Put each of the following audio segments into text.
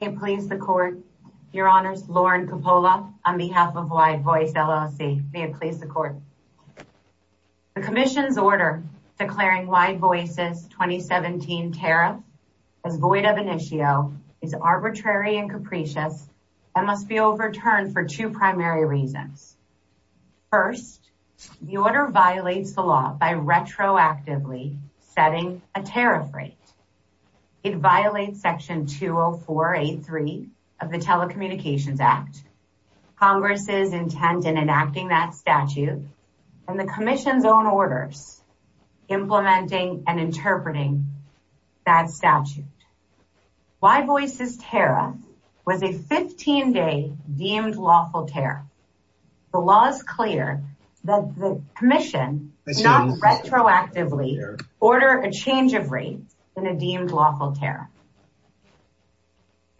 May it please the Court, Your Honors, Lauren Coppola on behalf of Wide Voice, LLC. May it please the Court. The Commission's order declaring Wide Voice's 2017 tariff as void of initio is arbitrary and capricious and must be overturned for two primary reasons. First, the order violates the law by retroactively setting a tariff rate. It violates Section 20483 of the Telecommunications Act, Congress's intent in enacting that statute, and the Commission's own orders implementing and interpreting that statute. Wide Voice's tariff was a 15-day deemed lawful tariff. The law is clear that the Commission does not retroactively order a change of rate in a deemed lawful tariff.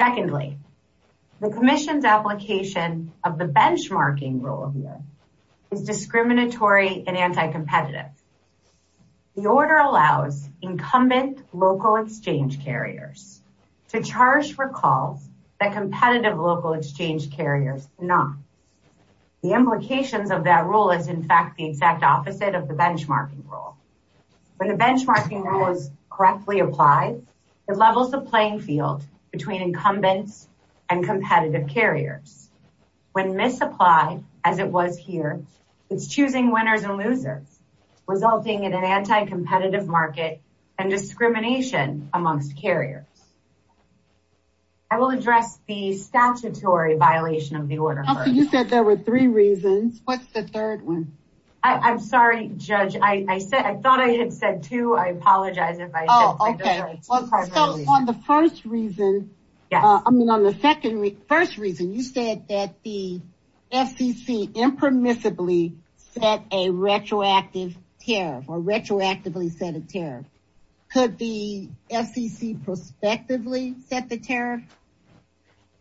Secondly, the Commission's application of the benchmarking rule here is discriminatory and anti-competitive. The order allows incumbent local exchange carriers to charge for calls that competitive local exchange carriers do not. The implications of that rule is, in fact, the exact opposite of the benchmarking rule. When the benchmarking rule is correctly applied, it levels the playing field between incumbents and competitive carriers. When misapplied, as it was here, it's choosing winners and losers, resulting in an anti-competitive market and discrimination amongst carriers. I will address the statutory violation of the order first. You said there were three reasons. What's the third one? I'm sorry, Judge. I thought I had said two. I apologize if I said three different reasons. On the first reason, you said that the FCC impermissibly set a retroactive tariff or retroactively set a tariff. Could the FCC prospectively set the tariff?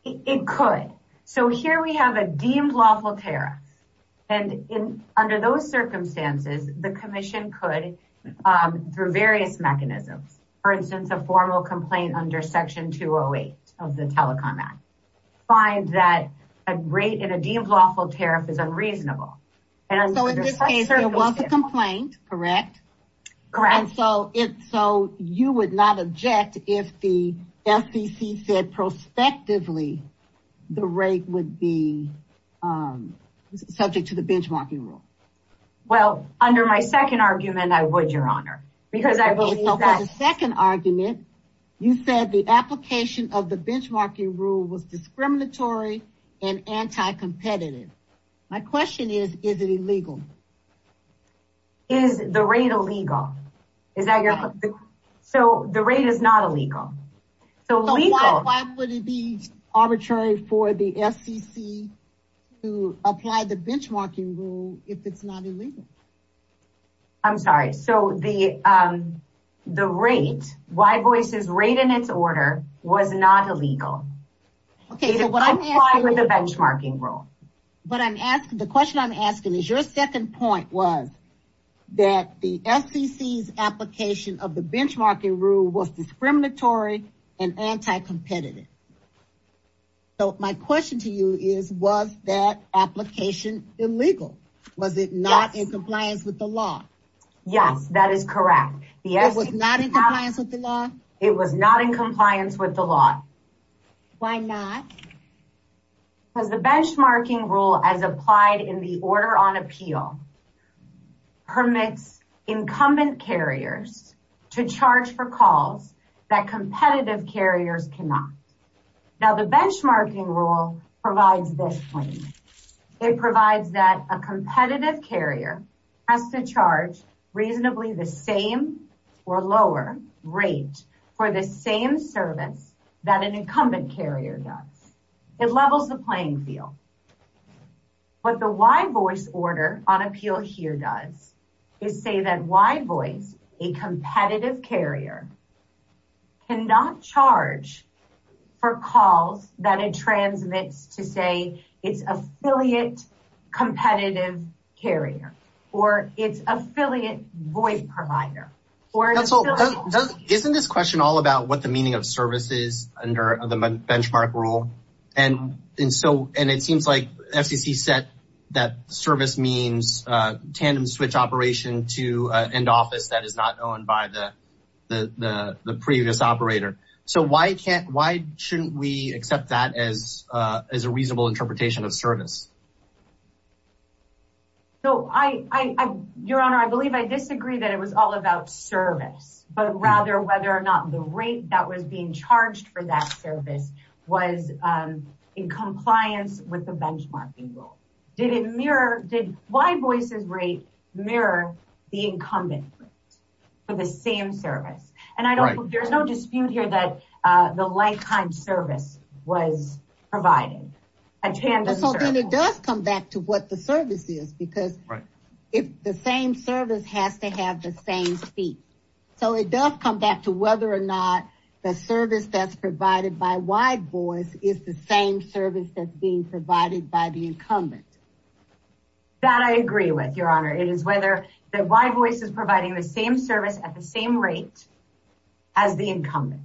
It could. So here we have a deemed lawful tariff. Under those circumstances, the commission could, through various mechanisms, for instance, a formal complaint under Section 208 of the Telecom Act, find that a rate in a deemed lawful tariff is unreasonable. So in this case, it was a complaint, correct? Correct. So you would not object if the FCC said prospectively the rate would be subject to the benchmarking rule? Well, under my second argument, I would, Your Honor. Under the second argument, you said the application of the benchmarking rule was discriminatory and anti-competitive. My question is, is it illegal? Is the rate illegal? So the rate is not illegal. So why would it be arbitrary for the FCC to apply the benchmarking rule if it's not illegal? I'm sorry. So the rate, Wye Voice's rate in its order, was not illegal. It applied with the benchmarking rule. The question I'm asking is, your second point was that the FCC's application of the benchmarking rule was discriminatory and anti-competitive. So my question to you is, was that application illegal? Was it not in compliance with the law? Yes, that is correct. It was not in compliance with the law? It was not in compliance with the law. Why not? Because the benchmarking rule, as applied in the Order on Appeal, permits incumbent carriers to charge for calls that competitive carriers cannot. Now, the benchmarking rule provides this claim. It provides that a competitive carrier has to charge reasonably the same or lower rate for the same service that an incumbent carrier does. It levels the playing field. What the Wye Voice Order on Appeal here does is say that Wye Voice, a competitive carrier, cannot charge for calls that it transmits to, say, its affiliate competitive carrier or its affiliate voice provider. Isn't this question all about what the meaning of service is under the benchmark rule? And it seems like FCC said that service means tandem switch operation to end office that is not owned by the previous operator. So why shouldn't we accept that as a reasonable interpretation of service? Your Honor, I believe I disagree that it was all about service, but rather whether or not the rate that was being charged for that service was in compliance with the benchmarking rule. Did Wye Voice's rate mirror the incumbent rate for the same service? And there's no dispute here that the like-kind service was provided. So then it does come back to what the service is, because the same service has to have the same fee. So it does come back to whether or not the service that's provided by Wye Voice is the same service that's being provided by the incumbent. That I agree with, Your Honor. It is whether the Wye Voice is providing the same service at the same rate as the incumbent.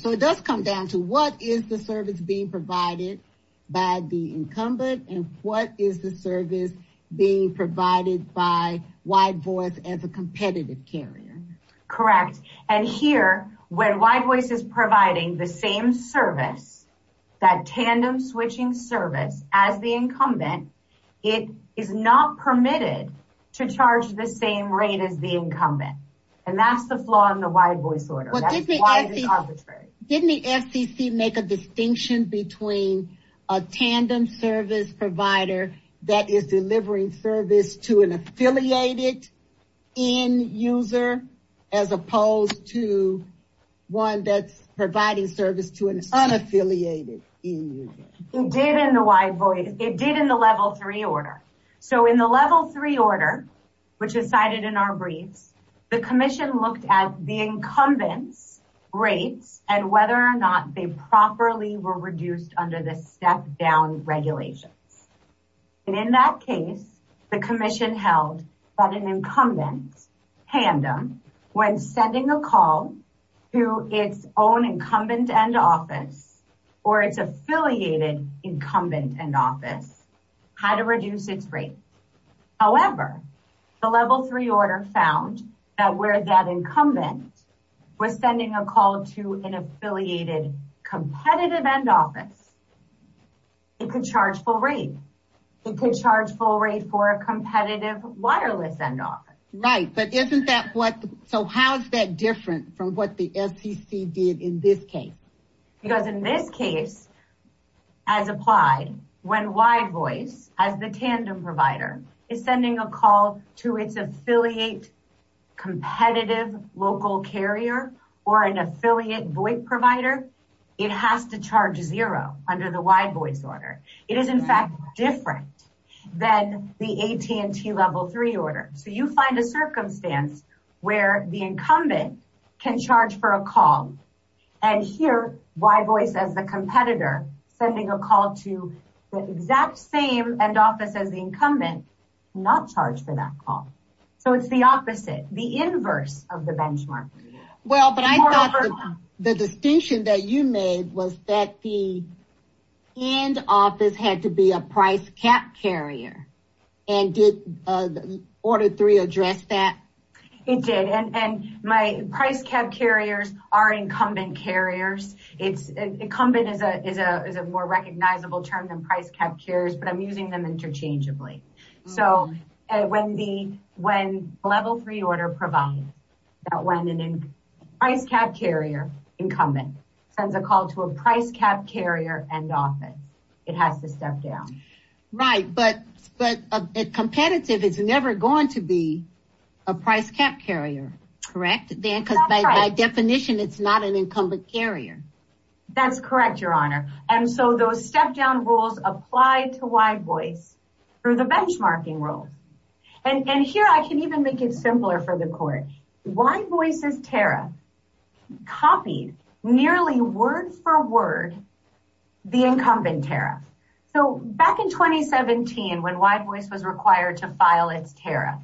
So it does come down to what is the service being provided by the incumbent and what is the service being provided by Wye Voice as a competitive carrier. Correct. And here, when Wye Voice is providing the same service, that tandem switching service, as the incumbent, it is not permitted to charge the same rate as the incumbent. And that's the flaw in the Wye Voice order. Didn't the FCC make a distinction between a tandem service provider that is delivering service to an affiliated end user as opposed to one that's providing service to an unaffiliated end user? It did in the Wye Voice. It did in the Level 3 order. So in the Level 3 order, which is cited in our briefs, the Commission looked at the incumbents' rates and whether or not they properly were reduced under the step-down regulations. And in that case, the Commission held that an incumbent tandem, when sending a call to its own incumbent end office or its affiliated incumbent end office, had to reduce its rate. However, the Level 3 order found that where that incumbent was sending a call to an affiliated competitive end office, it could charge full rate. It could charge full rate for a competitive wireless end office. Right, but isn't that what, so how is that different from what the FCC did in this case? Because in this case, as applied, when Wye Voice, as the tandem provider, is sending a call to its affiliate competitive local carrier or an affiliate VoIP provider, it has to charge zero under the Wye Voice order. It is in fact different than the AT&T Level 3 order. So you find a circumstance where the incumbent can charge for a call, and here, Wye Voice, as the competitor, sending a call to the exact same end office as the incumbent, cannot charge for that call. So it's the opposite, the inverse of the benchmark. Well, but I thought the distinction that you made was that the end office had to be a price cap carrier. And did Order 3 address that? It did, and my price cap carriers are incumbent carriers. Incumbent is a more recognizable term than price cap carriers, but I'm using them interchangeably. So when the Level 3 order provides that when a price cap carrier incumbent sends a call to a price cap carrier end office, it has to step down. Right, but a competitive is never going to be a price cap carrier, correct? Because by definition, it's not an incumbent carrier. That's correct, Your Honor. And so those step-down rules apply to Wye Voice through the benchmarking rules. And here, I can even make it simpler for the court. Wye Voice's tariff copied nearly word-for-word the incumbent tariff. So back in 2017, when Wye Voice was required to file its tariff,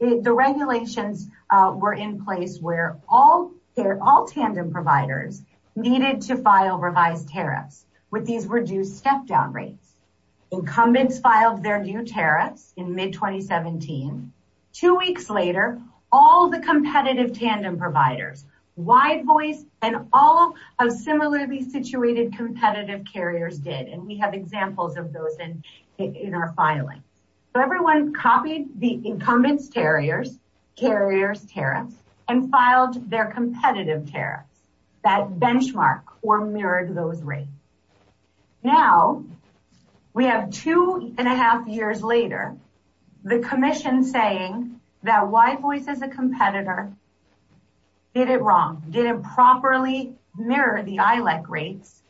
the regulations were in place where all tandem providers needed to file revised tariffs with these reduced step-down rates. Incumbents filed their new tariffs in mid-2017. Two weeks later, all the competitive tandem providers, Wye Voice and all of similarly situated competitive carriers did. And we have examples of those in our filing. So everyone copied the incumbent's carriers' tariffs and filed their competitive tariffs. That benchmark or mirrored those rates. Now, we have two and a half years later, the commission saying that Wye Voice as a competitor did it wrong, didn't properly mirror the ILEC rates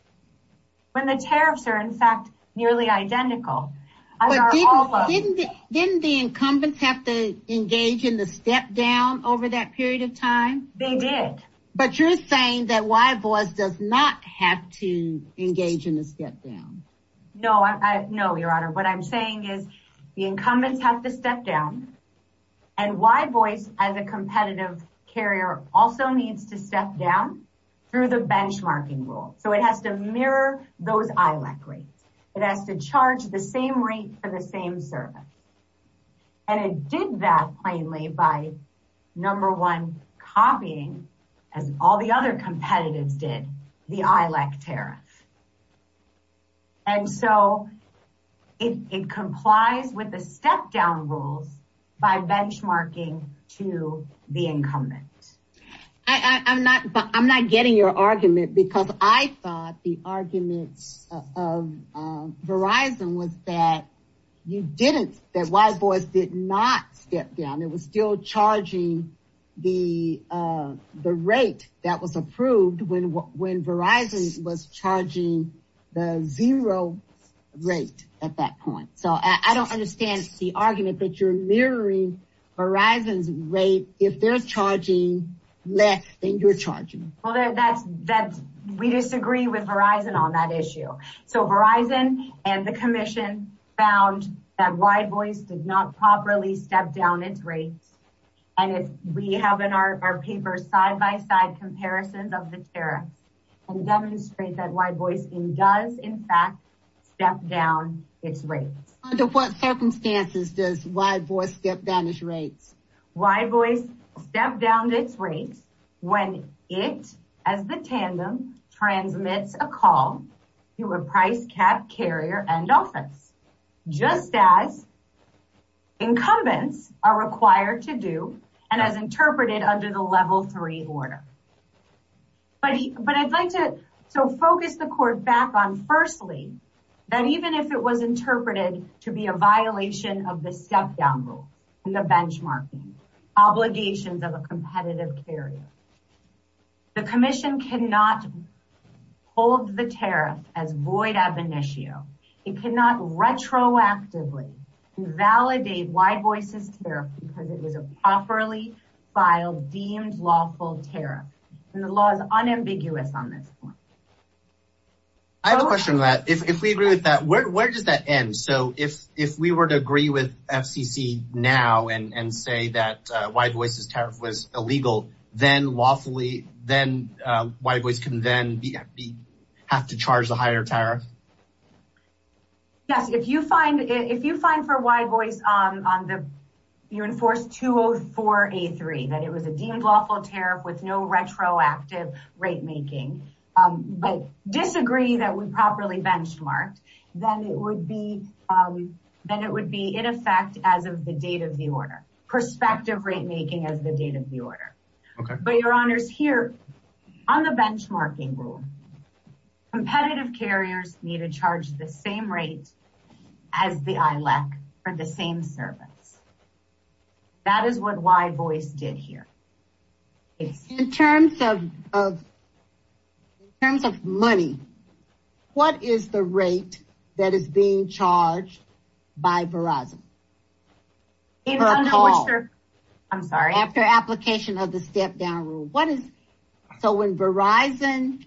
when the tariffs are in fact nearly identical. Didn't the incumbents have to engage in the step-down over that period of time? They did. But you're saying that Wye Voice does not have to engage in the step-down? No, Your Honor. What I'm saying is the incumbents have to step down. And Wye Voice as a competitive carrier also needs to step down through the benchmarking rule. So it has to mirror those ILEC rates. It has to charge the same rate for the same service. And it did that plainly by, number one, copying, as all the other competitives did, the ILEC tariffs. And so it complies with the step-down rules by benchmarking to the incumbent. I'm not getting your argument because I thought the arguments of Verizon was that you didn't, that Wye Voice did not step down. It was still charging the rate that was approved when Verizon was charging the zero rate at that point. So I don't understand the argument that you're mirroring Verizon's rate. If they're charging less than you're charging. We disagree with Verizon on that issue. So Verizon and the commission found that Wye Voice did not properly step down its rates. And we have in our papers side-by-side comparisons of the tariff and demonstrate that Wye Voice does in fact step down its rates. Under what circumstances does Wye Voice step down its rates? Wye Voice stepped down its rates when it, as the tandem, transmits a call to a price cap carrier and office. Just as incumbents are required to do and as interpreted under the level three order. But I'd like to focus the court back on firstly, that even if it was interpreted to be a violation of the step-down rule and the benchmarking, obligations of a competitive carrier. The commission cannot hold the tariff as void ab initio. It cannot retroactively invalidate Wye Voice's tariff because it was a properly filed, deemed lawful tariff. And the law is unambiguous on this point. I have a question on that. If we agree with that, where does that end? So if we were to agree with FCC now and say that Wye Voice's tariff was illegal, then lawfully, then Wye Voice can then have to charge a higher tariff? Yes, if you find, if you find for Wye Voice on the, you enforce 204A3, that it was a deemed lawful tariff with no retroactive rate making. But disagree that we properly benchmarked, then it would be, then it would be in effect as of the date of the order. Prospective rate making as the date of the order. But your honors, here on the benchmarking rule, competitive carriers need to charge the same rate as the ILEC for the same service. That is what Wye Voice did here. In terms of, in terms of money, what is the rate that is being charged by Verizon? I'm sorry. After application of the step down rule. What is, so when Verizon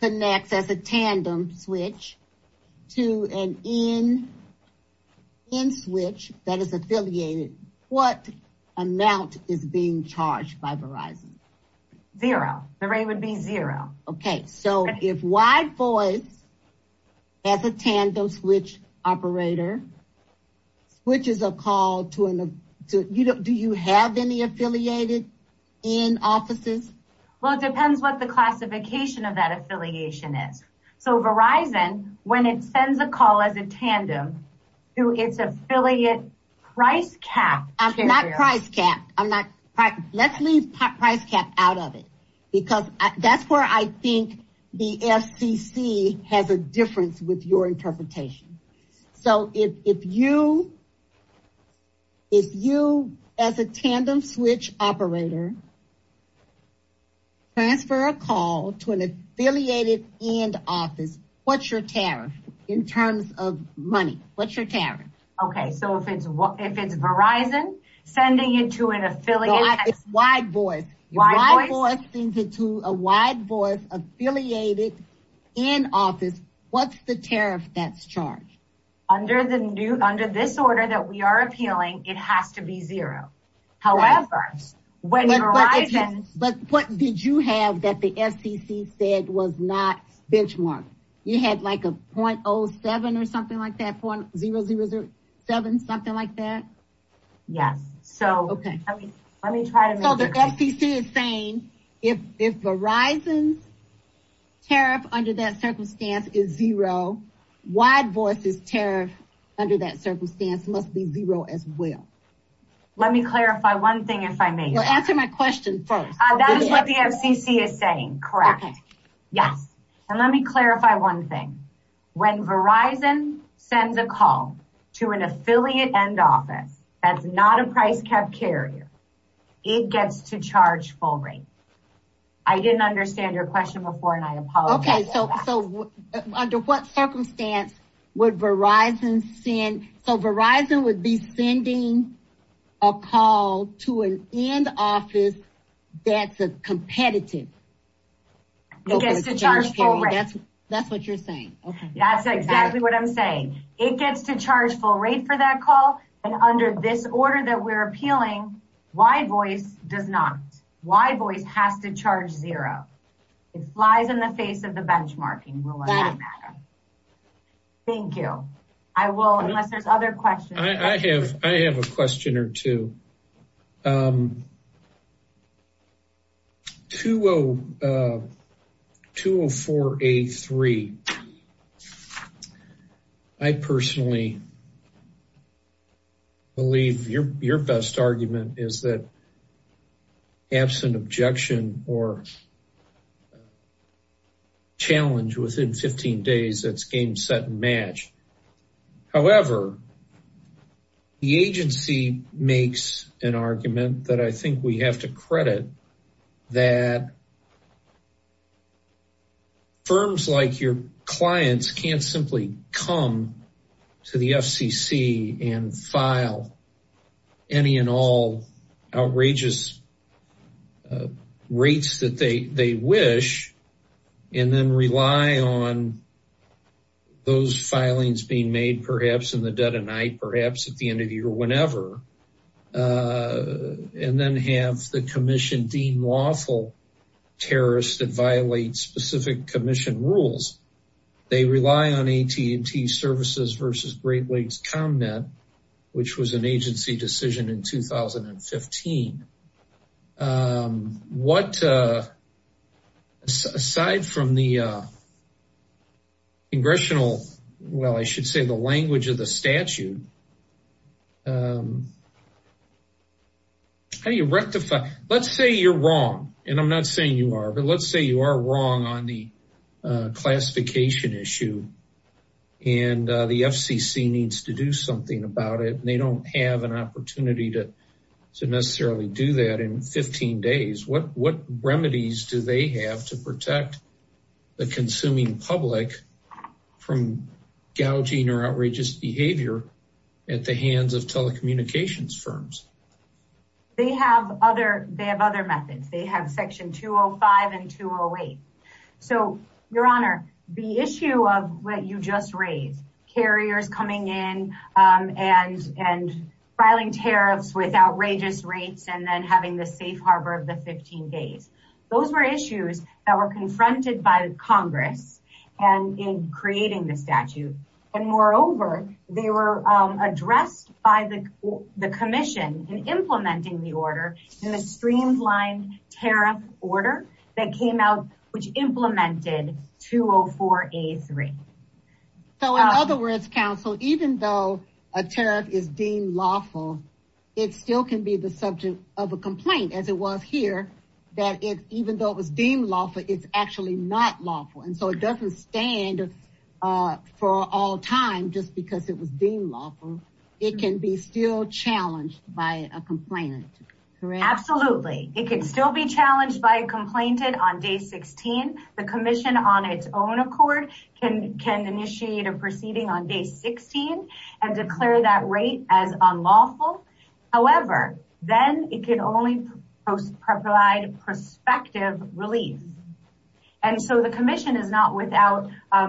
connects as a tandem switch to an in switch that is affiliated, what amount is being charged by Verizon? Zero. The rate would be zero. Okay. So if Wye Voice as a tandem switch operator switches a call to an, do you have any affiliated in offices? Well, it depends what the classification of that affiliation is. So Verizon, when it sends a call as a tandem to its affiliate price cap carrier. I'm not price capped. Let's leave price capped out of it. Because that's where I think the FCC has a difference with your interpretation. So if you, if you as a tandem switch operator transfer a call to an affiliated in office, what's your tariff in terms of money? What's your tariff? Okay. So if it's, if it's Verizon sending it to an affiliate. It's Wye Voice. Wye Voice. Wye Voice sends it to a Wye Voice affiliated in office. What's the tariff that's charged? Under the new, under this order that we are appealing, it has to be zero. However, when Verizon. But what did you have that the FCC said was not benchmarked? You had like a .07 or something like that. .007, something like that. Yes. So let me try to. So the FCC is saying if Verizon's tariff under that circumstance is zero. Wye Voice's tariff under that circumstance must be zero as well. Let me clarify one thing if I may. Answer my question first. That is what the FCC is saying. Correct. Yes. And let me clarify one thing. When Verizon sends a call to an affiliate end office. That's not a price cap carrier. It gets to charge full rate. I didn't understand your question before and I apologize for that. Okay. So under what circumstance would Verizon send. So Verizon would be sending a call to an end office that's a competitive. It gets to charge full rate. That's what you're saying. That's exactly what I'm saying. It gets to charge full rate for that call. And under this order that we're appealing, Wye Voice does not. Wye Voice has to charge zero. It flies in the face of the benchmarking. Thank you. I will, unless there's other questions. I have a question or two. 204A3. I personally believe your best argument is that absent objection or challenge within 15 days, it's game, set, and match. However, the agency makes an argument that I think we have to credit that firms like your clients can't simply come to the FCC and file any and all outrageous rates that they wish and then rely on those filings being made perhaps in the dead of night, perhaps at the end of the year, whenever, and then have the commission deem lawful terrorists that violate specific commission rules. They rely on AT&T Services versus Great Lakes ComNet, which was an agency decision in 2015. What, aside from the congressional, well, I should say the language of the statute, how do you rectify? Let's say you're wrong, and I'm not saying you are, but let's say you are wrong on the classification issue and the FCC needs to do something about it and they don't have an opportunity to necessarily do that in 15 days. What remedies do they have to protect the consuming public from gouging or outrageous behavior at the hands of telecommunications firms? They have other methods. They have Section 205 and 208. So, Your Honor, the issue of what you just raised, carriers coming in and filing tariffs with outrageous rates and then having the safe harbor of the 15 days, those were issues that were confronted by Congress in creating the statute, and moreover, they were addressed by the commission in implementing the order in the streamlined tariff order that came out, which implemented 204A3. So, in other words, counsel, even though a tariff is deemed lawful, it still can be the subject of a complaint, as it was here, that even though it was deemed lawful, it's actually not lawful, and so it doesn't stand for all time just because it was deemed lawful. It can be still challenged by a complainant, correct? Absolutely. It can still be challenged by a complainant on day 16. The commission on its own accord can initiate a proceeding on day 16 and declare that rate as unlawful. However, then it can only provide prospective relief, and so the commission is not without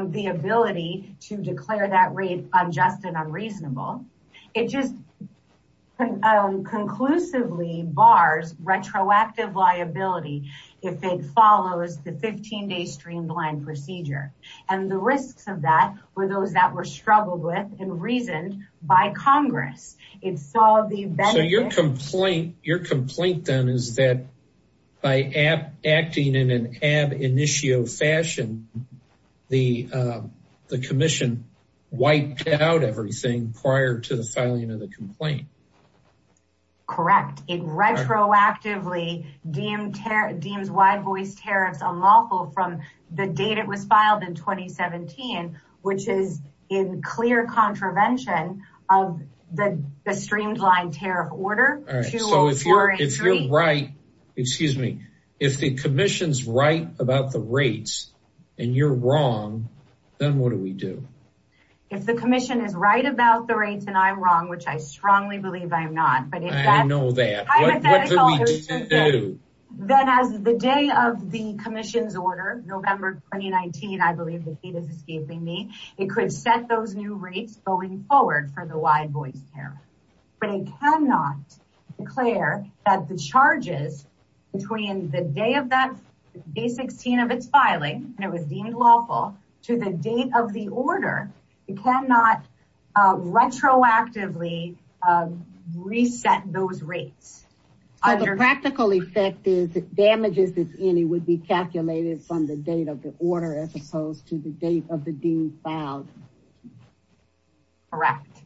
the ability to declare that rate unjust and unreasonable. It just conclusively bars retroactive liability if it follows the 15-day streamlined procedure, and the risks of that were those that were struggled with and reasoned by Congress. So your complaint then is that by acting in an ab initio fashion, the commission wiped out everything prior to the filing of the complaint. Correct. It retroactively deems wide-voiced tariffs unlawful from the date it was filed in 2017, which is in clear contravention of the streamlined tariff order 20483. So if you're right, excuse me, if the commission's right about the rates and you're wrong, then what do we do? If the commission is right about the rates and I'm wrong, which I strongly believe I am not. I don't know that. What do we do? Then as the day of the commission's order, November 2019, I believe the heat is escaping me, it could set those new rates going forward for the wide-voiced tariff. But it cannot declare that the charges between the day of that, day 16 of its filing, and it was deemed lawful, to the date of the order, it cannot retroactively reset those rates. So the practical effect is that damages, if any would be calculated from the date of the order as opposed to the date of the deem filed. Correct.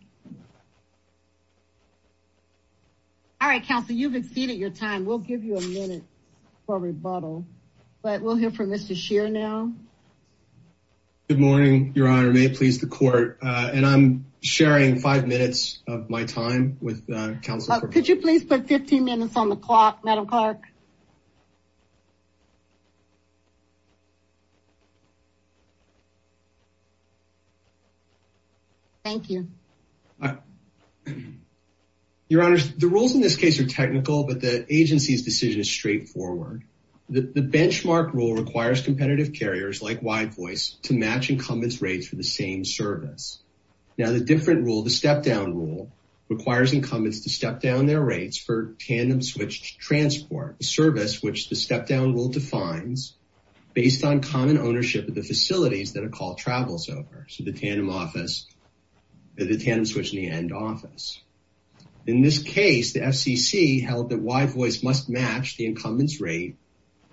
All right, counsel, you've exceeded your time. We'll give you a minute for rebuttal, but we'll hear from Mr. Good morning, your honor. May it please the court. And I'm sharing five minutes of my time with counsel. Could you please put 15 minutes on the clock? Madam Clark. Thank you. Your honors, the rules in this case are technical, but the agency's decision is straightforward. The benchmark rule requires competitive carriers like wide voice to match incumbents rates for the same service. Now the different rule, the step-down rule requires incumbents to step down their rates for tandem switch transport service, which the step-down rule defines based on common ownership of the facilities that are called travels over. So the tandem office, the tandem switch and the end office. In this case, the FCC held that why voice must match the incumbents rate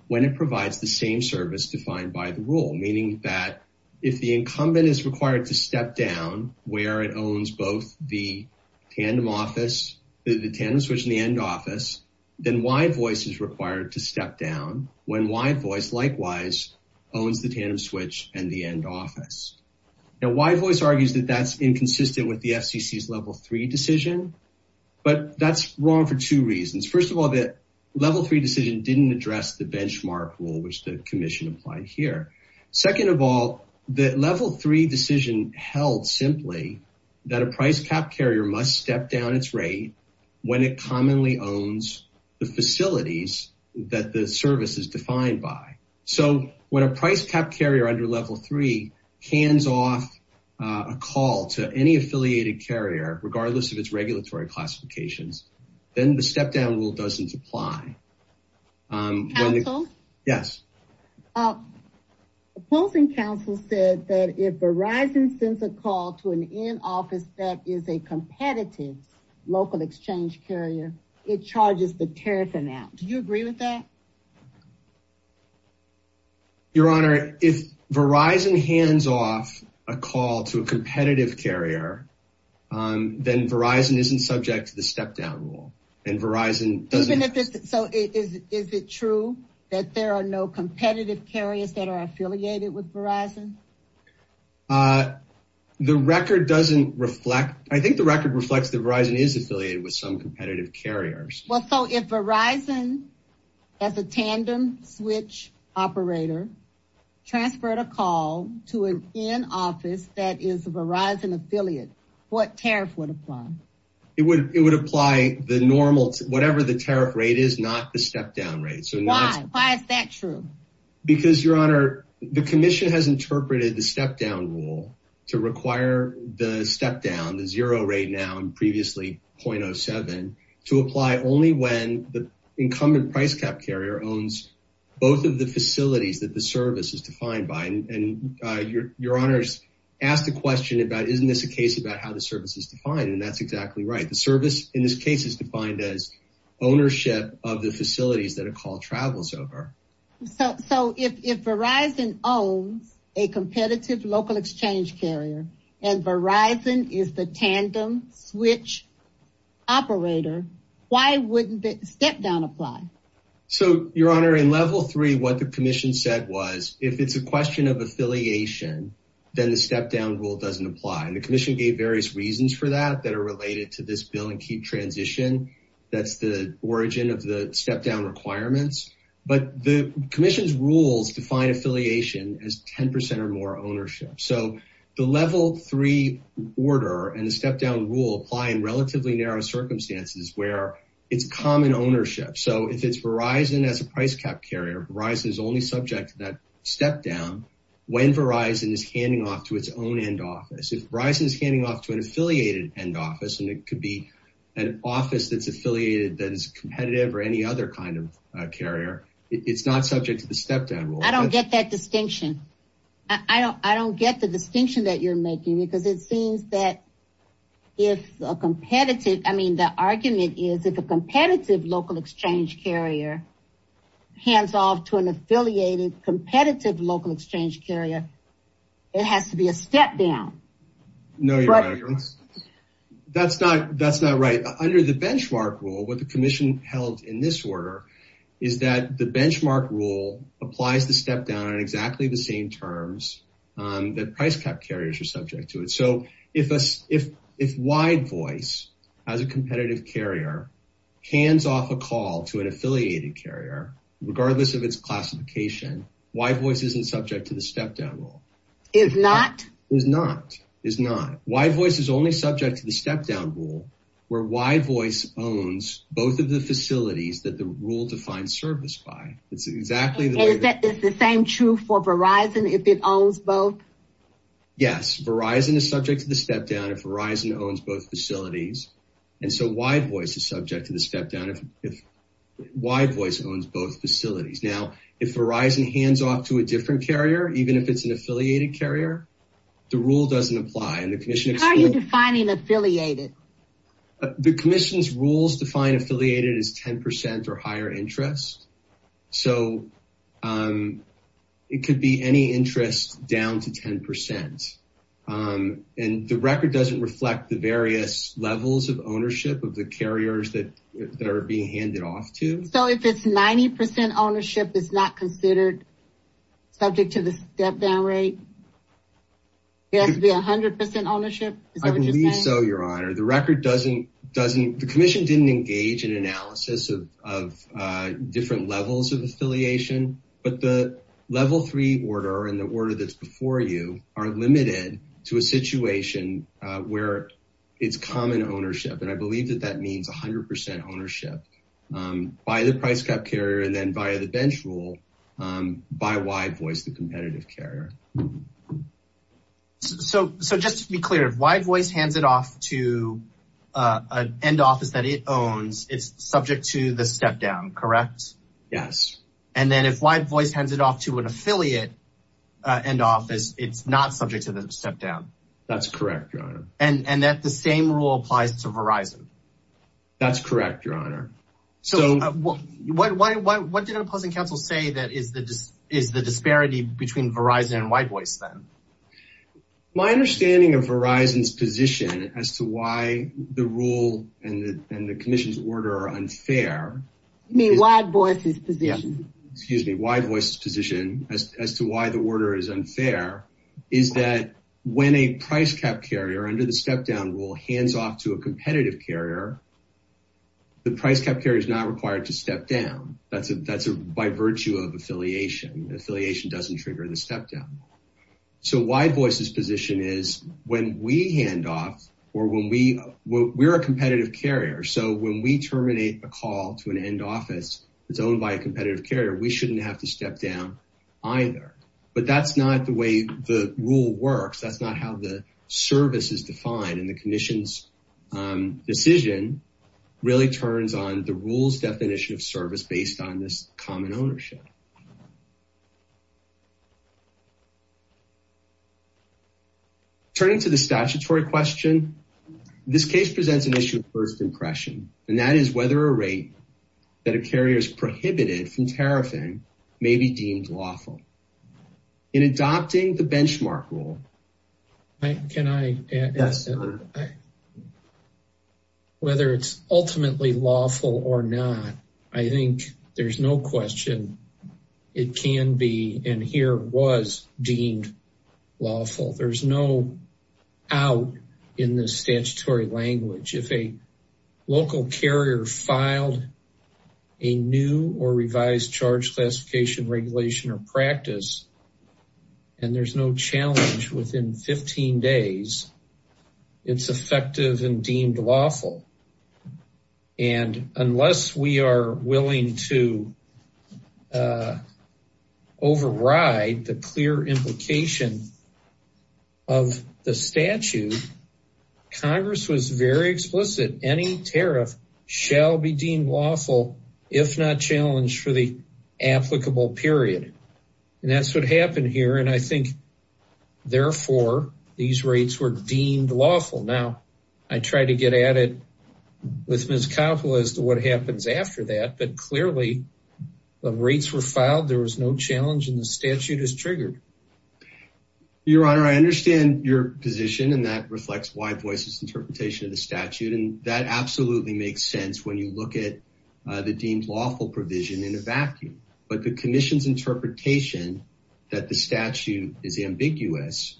when it provides the same service defined by the rule, meaning that if the incumbent is required to step down where it owns both the tandem office, the, the tandem switch and the end office, then why voice is required to step down when why voice likewise owns the tandem switch and the end office. Now why voice argues that that's inconsistent with the FCC is level three decision, but that's wrong for two reasons. First of all, that level three decision didn't address the benchmark rule, which the commission applied here. Second of all, the level three decision held simply that a price cap carrier must step down its rate when it commonly owns the facilities that the service is defined by. So when a price cap carrier under level three cans off a call to any affiliated carrier, regardless of its regulatory classifications, then the step down rule doesn't apply. Yes. Opposing council said that if Verizon sends a call to an in office, that is a competitive local exchange carrier. It charges the tariff amount. Do you agree with that? Your honor. If Verizon hands off a call to a competitive carrier, then Verizon isn't subject to the step down rule and Verizon doesn't. So is it true that there are no competitive carriers that are affiliated with Verizon? The record doesn't reflect. I think the record reflects that Verizon is affiliated with some competitive carriers. Well, so if Verizon has a tandem switch operator, transferred a call to an in office, that is Verizon affiliate, what tariff would apply? It would, it would apply the normal, whatever the tariff rate is, not the step down rate. So why is that true? Because your honor, the commission has interpreted the step down rule to require the step down the zero rate now and previously 0.07 to apply only when the incumbent price cap carrier owns both of the facilities that the service is defined by. And your, your honors asked the question about, isn't this a case about how the service is defined? And that's exactly right. The service in this case is defined as ownership of the facilities that a call travels over. So if, if Verizon owns a competitive local exchange carrier and Verizon is the tandem switch operator, why wouldn't the step down apply? So your honor in level three, what the commission said was if it's a question of affiliation, then the step down rule doesn't apply. And the commission gave various reasons for that that are related to this bill and keep transition. That's the origin of the step down requirements, but the commission's rules define affiliation as 10% or more ownership. So the level three order and the step down rule apply in relatively narrow circumstances where it's common ownership. So if it's Verizon as a price cap carrier rise is only subject to that step down. When Verizon is handing off to its own end office, if Verizon is handing off to an affiliated end office, and it could be an office that's affiliated that is competitive or any other kind of a carrier, it's not subject to the step down. I don't get that distinction. I don't, I don't get the distinction that you're making because it seems that if a competitive, I mean, the argument is if a competitive local exchange carrier hands off to an affiliated competitive local exchange carrier, it has to be a step down. No, you're right. That's not, that's not right. Under the benchmark rule with the commission held in this order is that the same terms that price cap carriers are subject to it. So if, if, if wide voice as a competitive carrier hands off a call to an affiliated carrier, regardless of its classification, why voice isn't subject to the step down rule is not, is not, is not why voice is only subject to the step down rule where why voice owns both of the facilities that the rule defined service by it's exactly the same truth for Verizon. If it owns both. Yes. Verizon is subject to the step down. If Verizon owns both facilities. And so why voice is subject to the step down. If, if why voice owns both facilities. Now if Verizon hands off to a different carrier, even if it's an affiliated carrier, the rule doesn't apply. And the commission is defining affiliated. The commission's rules define affiliated as 10% or higher interest. So it could be any interest down to 10%. And the record doesn't reflect the various levels of ownership of the carriers that are being handed off to. So if it's 90% ownership, it's not considered subject to the step down rate. It has to be a hundred percent ownership. So your honor, the record doesn't, doesn't, the commission didn't engage in analysis of, of different levels of affiliation, but the level three order and the order that's before you are limited to a situation where it's common ownership. And I believe that that means a hundred percent ownership by the price cap carrier. And then by the bench rule by why voice the competitive carrier. So, so just to be clear, if wide voice hands it off to a end office that it owns, it's subject to the step down, correct? Yes. And then if wide voice hands it off to an affiliate and office, it's not subject to the step down. That's correct. And that the same rule applies to Verizon. That's correct. Your honor. So what, why, why, why, what did a pleasant council say that is the, is the disparity between Verizon and white voice? My understanding of Verizon's position as to why the rule and the, and the commission's order are unfair. I mean, wide voice is position, excuse me, wide voice position as to why the order is unfair is that when a price cap carrier under the step down rule hands off to a competitive carrier, the price cap carrier is not required to step down. That's a, that's a by virtue of affiliation, affiliation doesn't trigger the step down. So why voice's position is when we hand off or when we, we're a competitive carrier. So when we terminate a call to an end office, it's owned by a competitive carrier. We shouldn't have to step down either, but that's not the way the rule works. That's not how the service is defined in the commission's decision really turns on the rules definition of service based on this common ownership. Turning to the statutory question, this case presents an issue of first impression. And that is whether a rate that a carrier is prohibited from tariffing may be deemed lawful in adopting the benchmark rule. Can I ask whether it's ultimately lawful or not? I think there's no question. It can be, and here was deemed lawful. There's no out in the statutory language. If a local carrier filed a new or revised charge classification regulation or practice, and there's no challenge within 15 days, it's effective and deemed lawful. And unless we are willing to override the clear implication of the statute, Congress was very explicit. Any tariff shall be deemed lawful. If not challenged for the applicable period. And that's what happened here. And I think therefore these rates were deemed lawful. Now I try to get at it with Ms. Coppola as to what happens after that, but clearly the rates were filed. There was no challenge in the statute is triggered. Your honor. I understand your position and that reflects why voices interpretation of the statute. And that absolutely makes sense when you look at the deemed lawful provision in a vacuum, but the commission's interpretation that the statute is ambiguous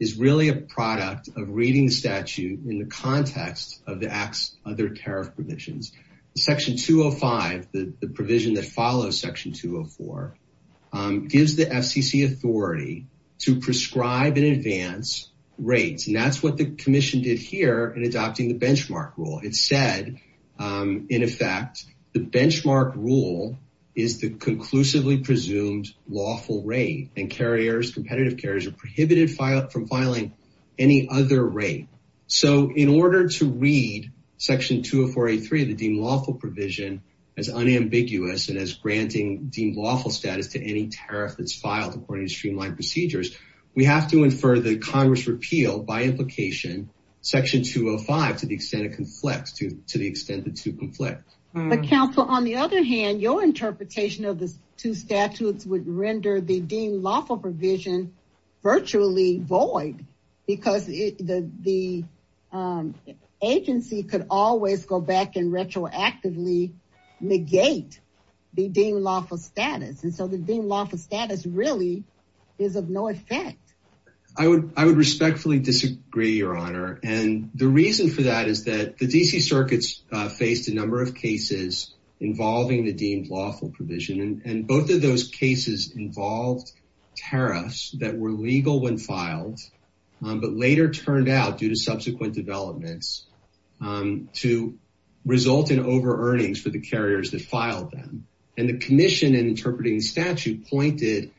is really a product of reading the statute in the context of the acts. Other tariff provisions, section 205, the provision that follows section 204 gives the FCC authority to prescribe in advance rates. And that's what the commission did here in adopting the benchmark rule. It said in effect, the benchmark rule is the conclusively presumed lawful rate and carriers competitive carriers are prohibited from filing any other rate. So in order to read section 204, a three of the deemed lawful provision as unambiguous and as granting deemed lawful status to any tariff that's filed according to streamline procedures, we have to infer the Congress repeal by implication section 205, to the extent of conflict to, to the extent that to conflict. But counsel, on the other hand, your interpretation of the two statutes would render the deemed lawful provision virtually void because the, the agency could always go back and retroactively negate the deemed lawful status. And so the deemed lawful status really is of no effect. I would, I would respectfully disagree your honor. And the reason for that is that the DC circuits faced a number of cases involving the deemed lawful provision. And both of those cases involved tariffs that were legal when filed, but later turned out due to subsequent developments to result in over earnings for the carriers that filed them. And the commission and interpreting statute pointed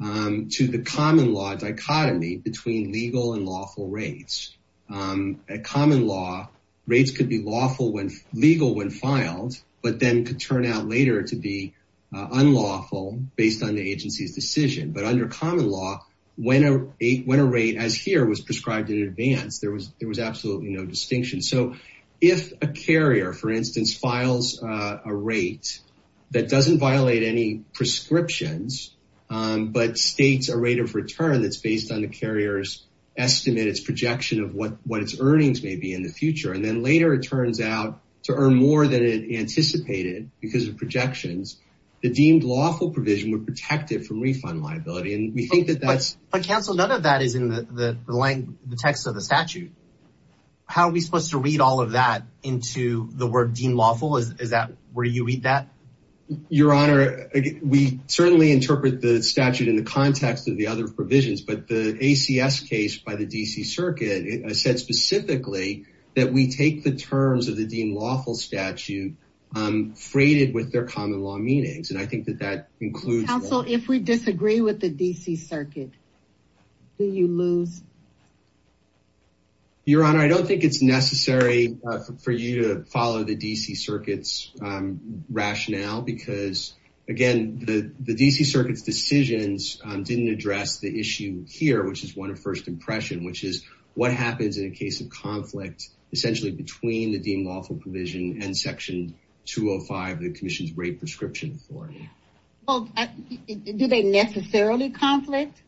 to the common law dichotomy between legal and lawful rates at common law rates could be lawful when legal, when filed, but then could turn out later to be unlawful based on the agency's decision. But under common law, when a, when a rate as here was prescribed in advance, there was, there was absolutely no distinction. So if a carrier, for instance, files a rate that doesn't violate any prescriptions but states a rate of return, that's based on the carrier's estimate, it's projection of what, what its earnings may be in the future. And then later it turns out to earn more than it anticipated because of projections, the deemed lawful provision would protect it from refund liability. And we think that that's a council. None of that is in the text of the statute. How are we supposed to read all of that into the word deemed lawful? Is that where you read that your honor? We certainly interpret the statute in the context of the other provisions, but the ACS case by the DC circuit said specifically that we take the terms of the deemed lawful statute freighted with their common law meanings. And I think that that includes. If we disagree with the DC circuit, do you lose? Your honor, I don't think it's necessary for you to follow the DC circuits rationale because again, the, the DC circuit is in the context of the, the deemed lawful provision here, which is one of first impression, which is what happens in a case of conflict essentially between the deemed lawful provision and section two Oh five, the commission's rate prescription for me. Do they necessarily conflict?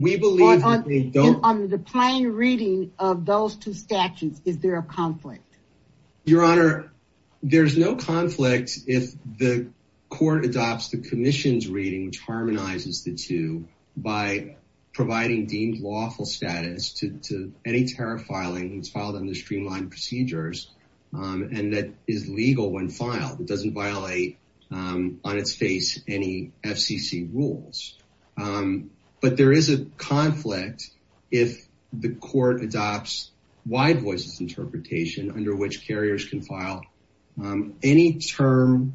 We believe on the plane reading of those two statutes. Is there a conflict? Your honor, there there's no conflict. If the court adopts the commission's reading, which harmonizes the two by providing deemed lawful status to, to any tariff filing, it's filed under streamline procedures. And that is legal when filed, it doesn't violate on its face, any FCC rules. But there is a conflict. If the court adopts wide voices, interpretation under which carriers can file any term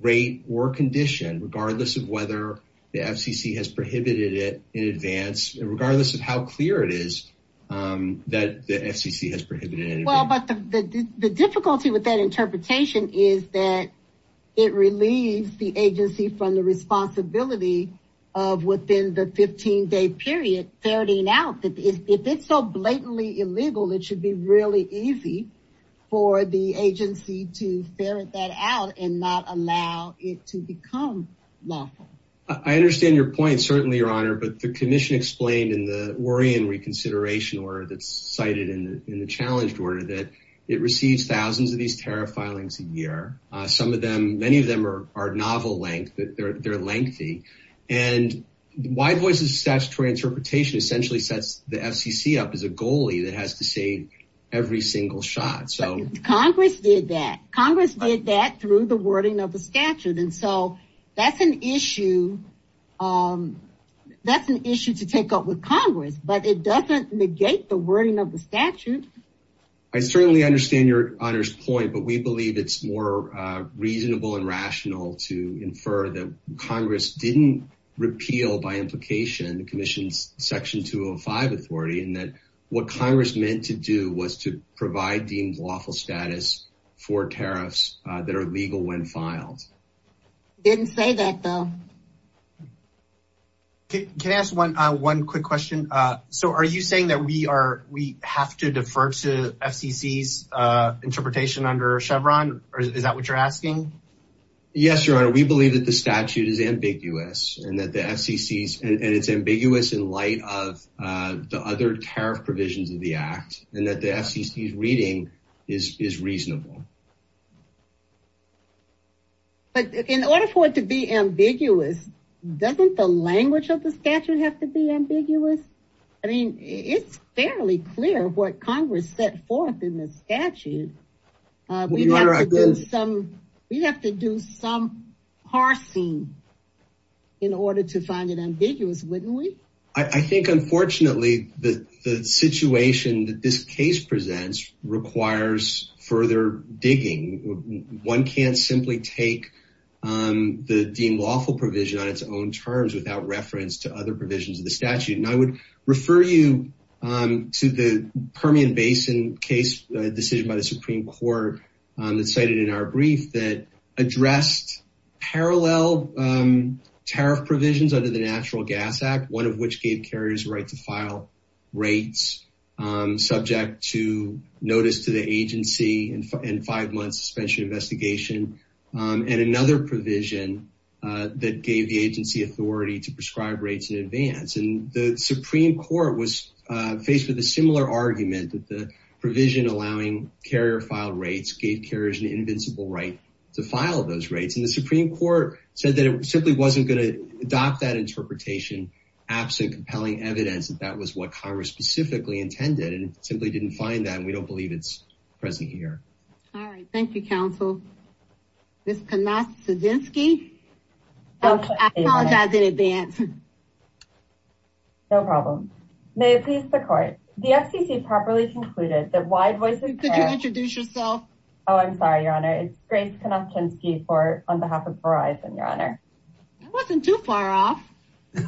rate or condition, regardless of whether the FCC has prohibited it in advance, regardless of how clear it is that the FCC has prohibited it. The difficulty with that interpretation is that it relieves the agency from the responsibility of within the 15 day period, 30 now that if it's so blatantly illegal, it should be really easy for the agency to ferret that out and not allow it to become lawful. I understand your point. Certainly your honor, but the commission explained in the worry and reconsideration or that's cited in the, in the challenged order that it receives thousands of these tariff filings a year. Some of them, many of them are, are novel length that they're, they're lengthy and wide voices. Statutory interpretation essentially sets the FCC up as a goalie that has to say every single shot. So Congress did that. Congress did that through the wording of the statute. And so that's an issue. That's an issue to take up with Congress, but it doesn't negate the wording of the statute. I certainly understand your honors point, but we believe it's more reasonable and rational to infer that Congress didn't repeal by implication, Section 205 authority and that what Congress meant to do was to provide deemed lawful status for tariffs that are legal when filed. Didn't say that though. Can I ask one, one quick question. So are you saying that we are, we have to defer to FCC's interpretation under Chevron or is that what you're asking? your honor, we believe that the statute is ambiguous and that the FCC and it's ambiguous in light of the other tariff provisions of the act and that the FCC is reading is, is reasonable. But in order for it to be ambiguous, doesn't the language of the statute have to be ambiguous? I mean, it's fairly clear what Congress set forth in the statute. We'd have to do some, we'd have to do some parsing in order to find it ambiguous. Wouldn't we? I think unfortunately the, the situation that this case presents requires further digging. One can't simply take the deemed lawful provision on its own terms without reference to other provisions of the statute. And I would refer you to the Permian basin case decision by the Supreme Court that cited in our brief that addressed parallel tariff provisions under the natural gas act, one of which gave carriers right to file rates subject to notice to the agency and five months suspension investigation. And another provision that gave the agency authority to prescribe rates in advance. And the Supreme court was faced with a similar argument that the provision allowing carrier file rates gave carriers an invincible right to file those rates. And the Supreme court said that it simply wasn't going to adopt that interpretation. Absent compelling evidence that that was what Congress specifically intended and simply didn't find that. And we don't believe it's present here. All right. Thank you. Counsel. This cannot, I apologize in advance. No problem. May it please the court. The FCC properly concluded that wide voices. Did you introduce yourself? Oh, I'm sorry. Your honor. It's great. On behalf of Verizon. Your honor. Wasn't too far off. Your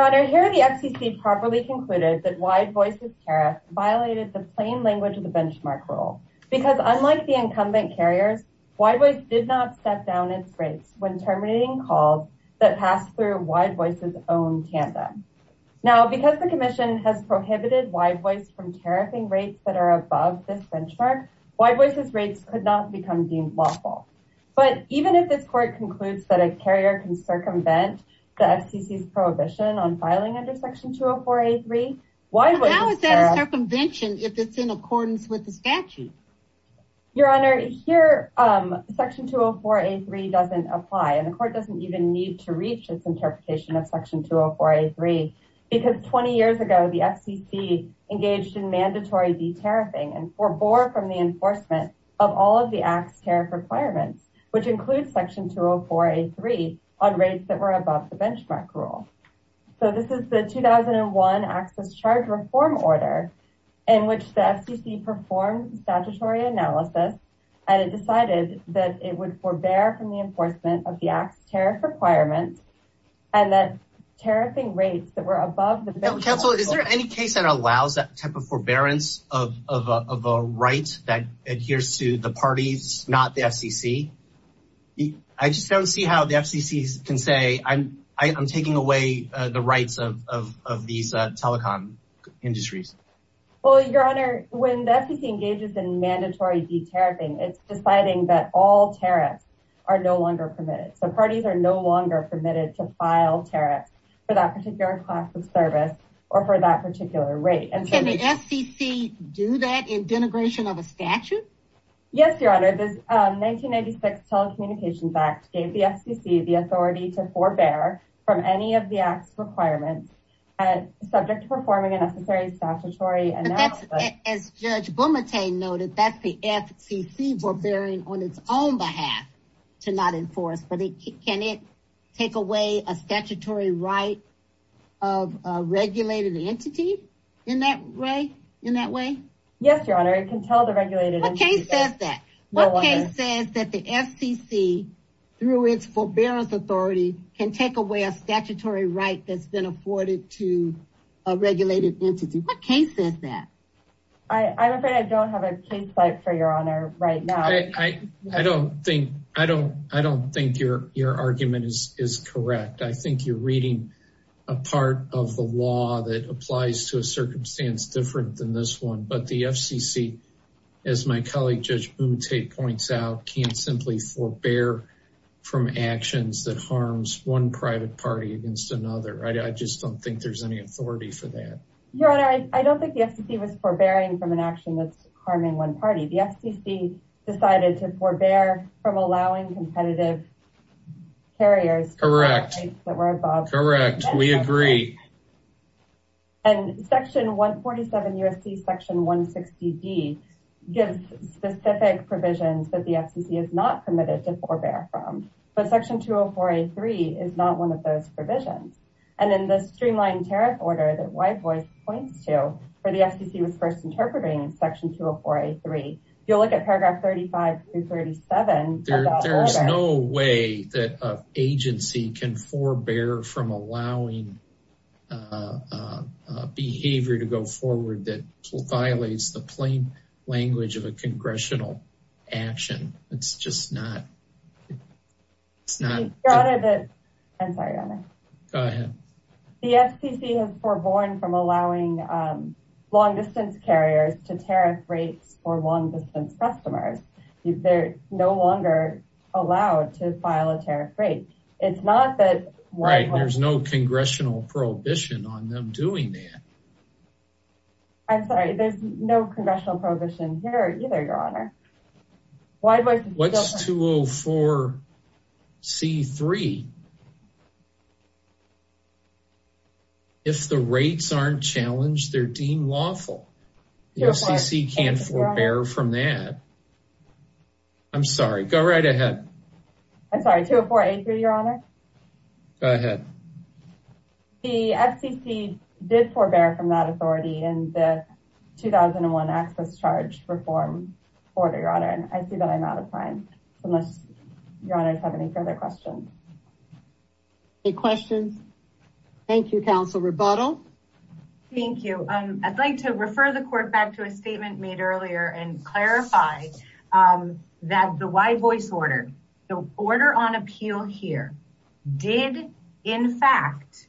honor here. The FCC properly concluded that wide voices, Tara violated the plain language of the benchmark role because unlike the incumbent carriers, why was did not step down its rates when terminating calls that passed through wide voices own tandem. Now, because the commission has prohibited wide voice from tariffing rates that are above this benchmark, why voices rates could not become deemed lawful. But even if this court concludes that a carrier can circumvent the FCC prohibition on filing under section two, a four, a three wide circumvention, if it's in accordance with the statute, your honor here, section two, a four, a three doesn't apply. And the court doesn't even need to reach this interpretation of section two, a four, a three because 20 years ago, the FCC engaged in mandatory, the tariffing and for bore from the enforcement of all of the acts, tariff requirements, which includes section two, a four, a three on rates that were above the benchmark rule. So this is the 2001 access charge reform order. And which the FCC performs statutory analysis. And it decided that it would forbear from the enforcement of the acts, tariff requirements, and that tariffing rates that were above the council. Is there any case that allows that type of forbearance of, of, of a right that adheres to the parties, not the FCC. I just don't see how the FCC can say I'm, I I'm taking away the rights of, of, of these telecom industries. Well, your honor, when the FCC engages in mandatory D tariffing, it's deciding that all tariffs are no longer permitted. So parties are no longer permitted to file tariffs for that particular class of service or for that particular rate. And so the FCC do that in denigration of a statute. Yes, your honor, this 1996 telecommunications act gave the FCC the authority to forbear from any of the acts requirements. And subject to performing a necessary statutory analysis. As judge noted, that's the FCC forbearing on its own behalf to not enforce, but it can, it take away a statutory right of a regulated entity in that way. In that way. Yes, your honor. It can tell the regulated. Okay. Says that the FCC through its forbearance authority can take away a statutory right. That's been afforded to a regulated entity. What case is that? I, I'm afraid I don't have a case like for your honor right now. I, I don't think, I don't, I don't think your, your argument is, is correct. I think you're reading a part of the law that applies to a circumstance different than this one, but the FCC, as my colleague, judge boom, take points out, can't simply forbear from actions that harms one private party against another. I just don't think there's any authority for that. Your honor. I don't think the FCC was forbearing from an action that's harming one party. The FCC decided to forbear from allowing competitive carriers. Correct. That were above. Correct. We agree. And section one 47 USC section one 60. D gives specific provisions that the FCC is not permitted to forbear from, but section two Oh four eight three is not one of those provisions. And then the streamline tariff order that white voice points to for the FCC was first interpreting section two Oh four eight three. You'll look at paragraph 35 through 37. There's no way that agency can forbear from allowing a behavior to go forward. That violates the plain language of a congressional action. It's just not, it's not I'm sorry. Go ahead. The FCC has forborn from allowing long distance carriers to tariff rates for long distance customers. They're no longer allowed to file a tariff rate. It's not that. Right. There's no congressional prohibition on them doing that. I'm sorry. There's no congressional prohibition here either. Your honor. What's two Oh four C three. If the rates aren't challenged, they're deemed lawful. The FCC can't forbear from that. I'm sorry. Go right ahead. I'm sorry. Two Oh four eight three. Your honor. Go ahead. The FCC did forbear from that authority. And the 2001 access charge reform order your honor. And I see that I'm out of time. So unless your honors have any further questions, Any questions. Thank you. Counsel rebuttal. Thank you. I'd like to refer the court back to a statement made earlier and clarify that the white voice order, the order on appeal here did in fact,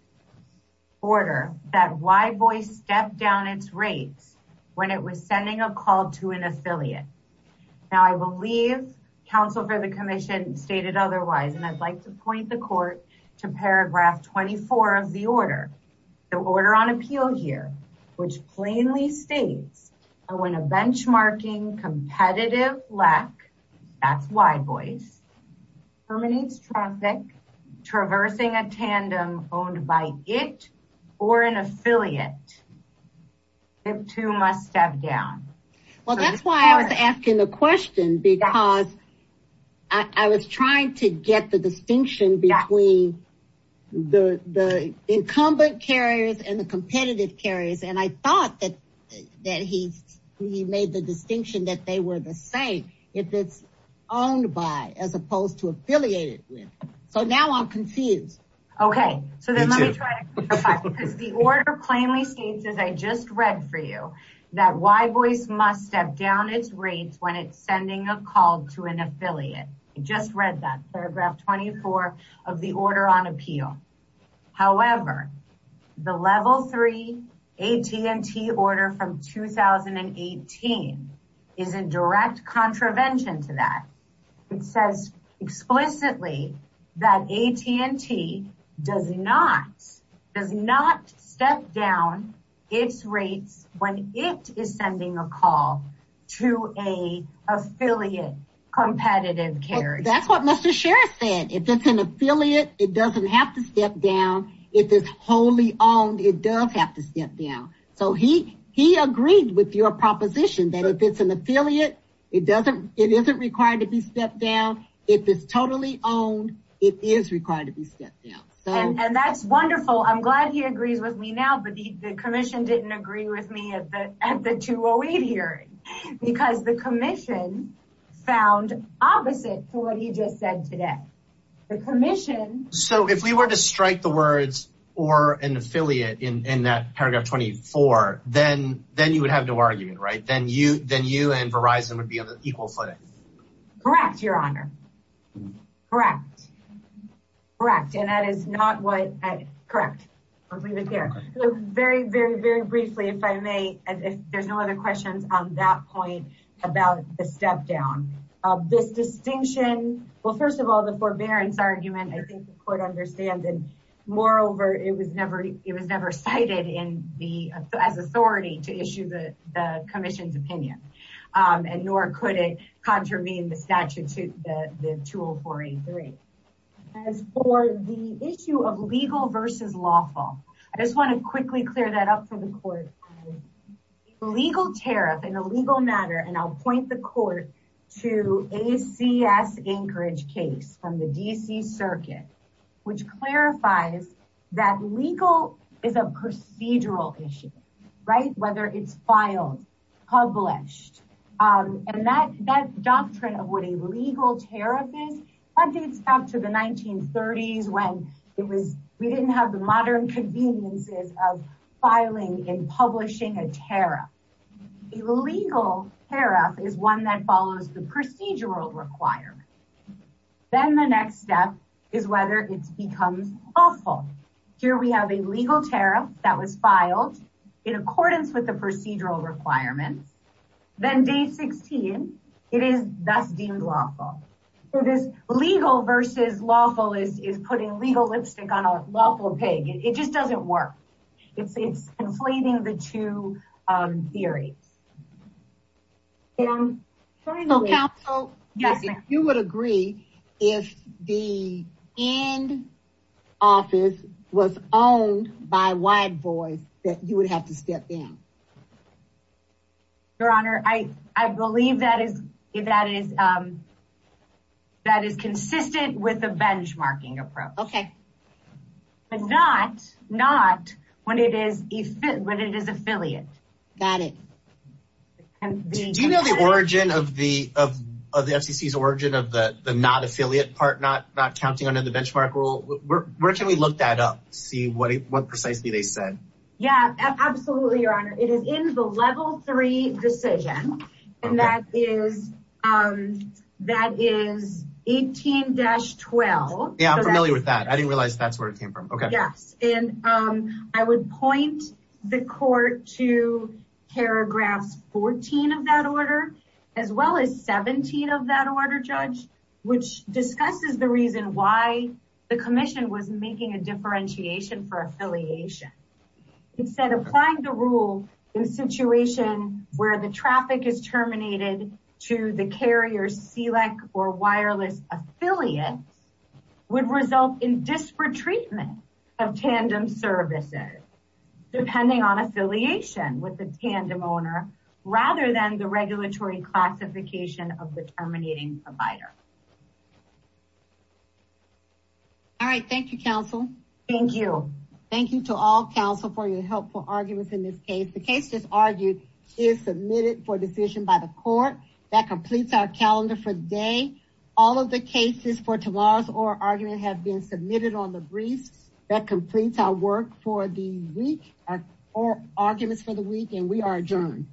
Order that why boy stepped down its rates when it was sending a call to an affiliate. Now I believe counsel for the commission stated otherwise, and I'd like to point the court to paragraph 24 of the order, the order on appeal here, which plainly states when a benchmarking competitive lack that's by boys. Terminates traffic, traversing a tandem owned by it or an affiliate. If two must have down. Well, that's why I was asking the question because I was trying to get the distinction between the incumbent carriers and the competitive carriers. And I thought that, that he's, he made the distinction that they were the same. If it's owned by, as opposed to affiliated with. So now I'm confused. Okay. So then let me try to clarify because the order plainly states, as I just read for you, that why boys must step down its rates when it's sending a call to an affiliate. I just read that paragraph 24 of the order on appeal. However, the level three AT and T order from 2018. Is a direct contravention to that. It says explicitly that AT and T does not, does not step down. It's rates. When it is sending a call to a affiliate competitive care. That's what Mr. Sheriff said. If it's an affiliate, it doesn't have to step down. If it's wholly owned, it does have to step down. So he, he agreed with your proposition that if it's an affiliate, it doesn't, it isn't required to be stepped down. If it's totally owned, it is required to be stepped down. And that's wonderful. I'm glad he agrees with me now, but the commission didn't agree with me at the, at the two Oh eight hearing, because the commission found opposite to what he just said today. The commission. So if we were to strike the words or an affiliate in, in that paragraph 24, then, then you would have no argument, right? Then you, then you and Verizon would be on an equal footing. Correct. Your honor. Correct. Correct. And that is not what I correct. I'll leave it there. Very, very, very briefly, if I may, if there's no other questions on that point about the step down, this distinction. Well, first of all, the forbearance argument, I think the court understand. And moreover, it was never, it was never cited in the, as authority to issue the, the commission's opinion. And nor could it contravene the statute, the two Oh four eight three. As for the issue of legal versus lawful, I just want to quickly clear that up for the court. Legal tariff in a legal matter. And I'll point the court to ACS Anchorage case from the DC circuit, which clarifies that legal is a procedural issue, right? Whether it's filed, published. And that, that doctrine of what a legal tariff is. I did stop to the 1930s when it was, we didn't have the modern conveniences of filing in publishing a tariff. Illegal tariff is one that follows the procedural requirement. Then the next step is whether it's becomes awful. Here we have a legal tariff that was filed in accordance with the procedural requirements. Then day 16, it is that's deemed lawful. So this legal versus lawful is, is putting legal lipstick on a lawful pig. It just doesn't work. It's inflating the two theories. Yeah. Yes, you would agree. If the end office was owned by white boys, that you would have to step down. Your honor. I, I believe that is, if that is, that is consistent with the benchmarking approach. Okay. But not, not when it is, when it is affiliate. Got it. Do you know the origin of the, of the FCC's origin of the, the not affiliate part, not counting under the benchmark rule, where can we look that up? See what, what precisely they said? Yeah, absolutely. Your honor. It is in the level three decision. And that is, that is 18 dash 12. Yeah. I'm familiar with that. I didn't realize that's where it came from. Okay. Yes. And I would point the court to. I would point the court to. I would point the court to. Paragraphs 14 of that order. As well as 17 of that order judge. Which discusses the reason why. The commission was making a differentiation for affiliation. Instead of applying the rule. In a situation where the traffic is terminated. To the carrier C like, or wireless affiliate. Would result in desperate treatment. Of tandem services. Depending on affiliation with the tandem owner. Rather than the regulatory classification of the terminating. Provider. All right. Thank you counsel. Thank you. Thank you to all counsel for your helpful arguments in this case. The case is argued. Is submitted for decision by the court. That completes our calendar for the day. All of the cases for tomorrow's or argument have been submitted on the breeze. That completes our work for the week. Or arguments for the week. And we are adjourned.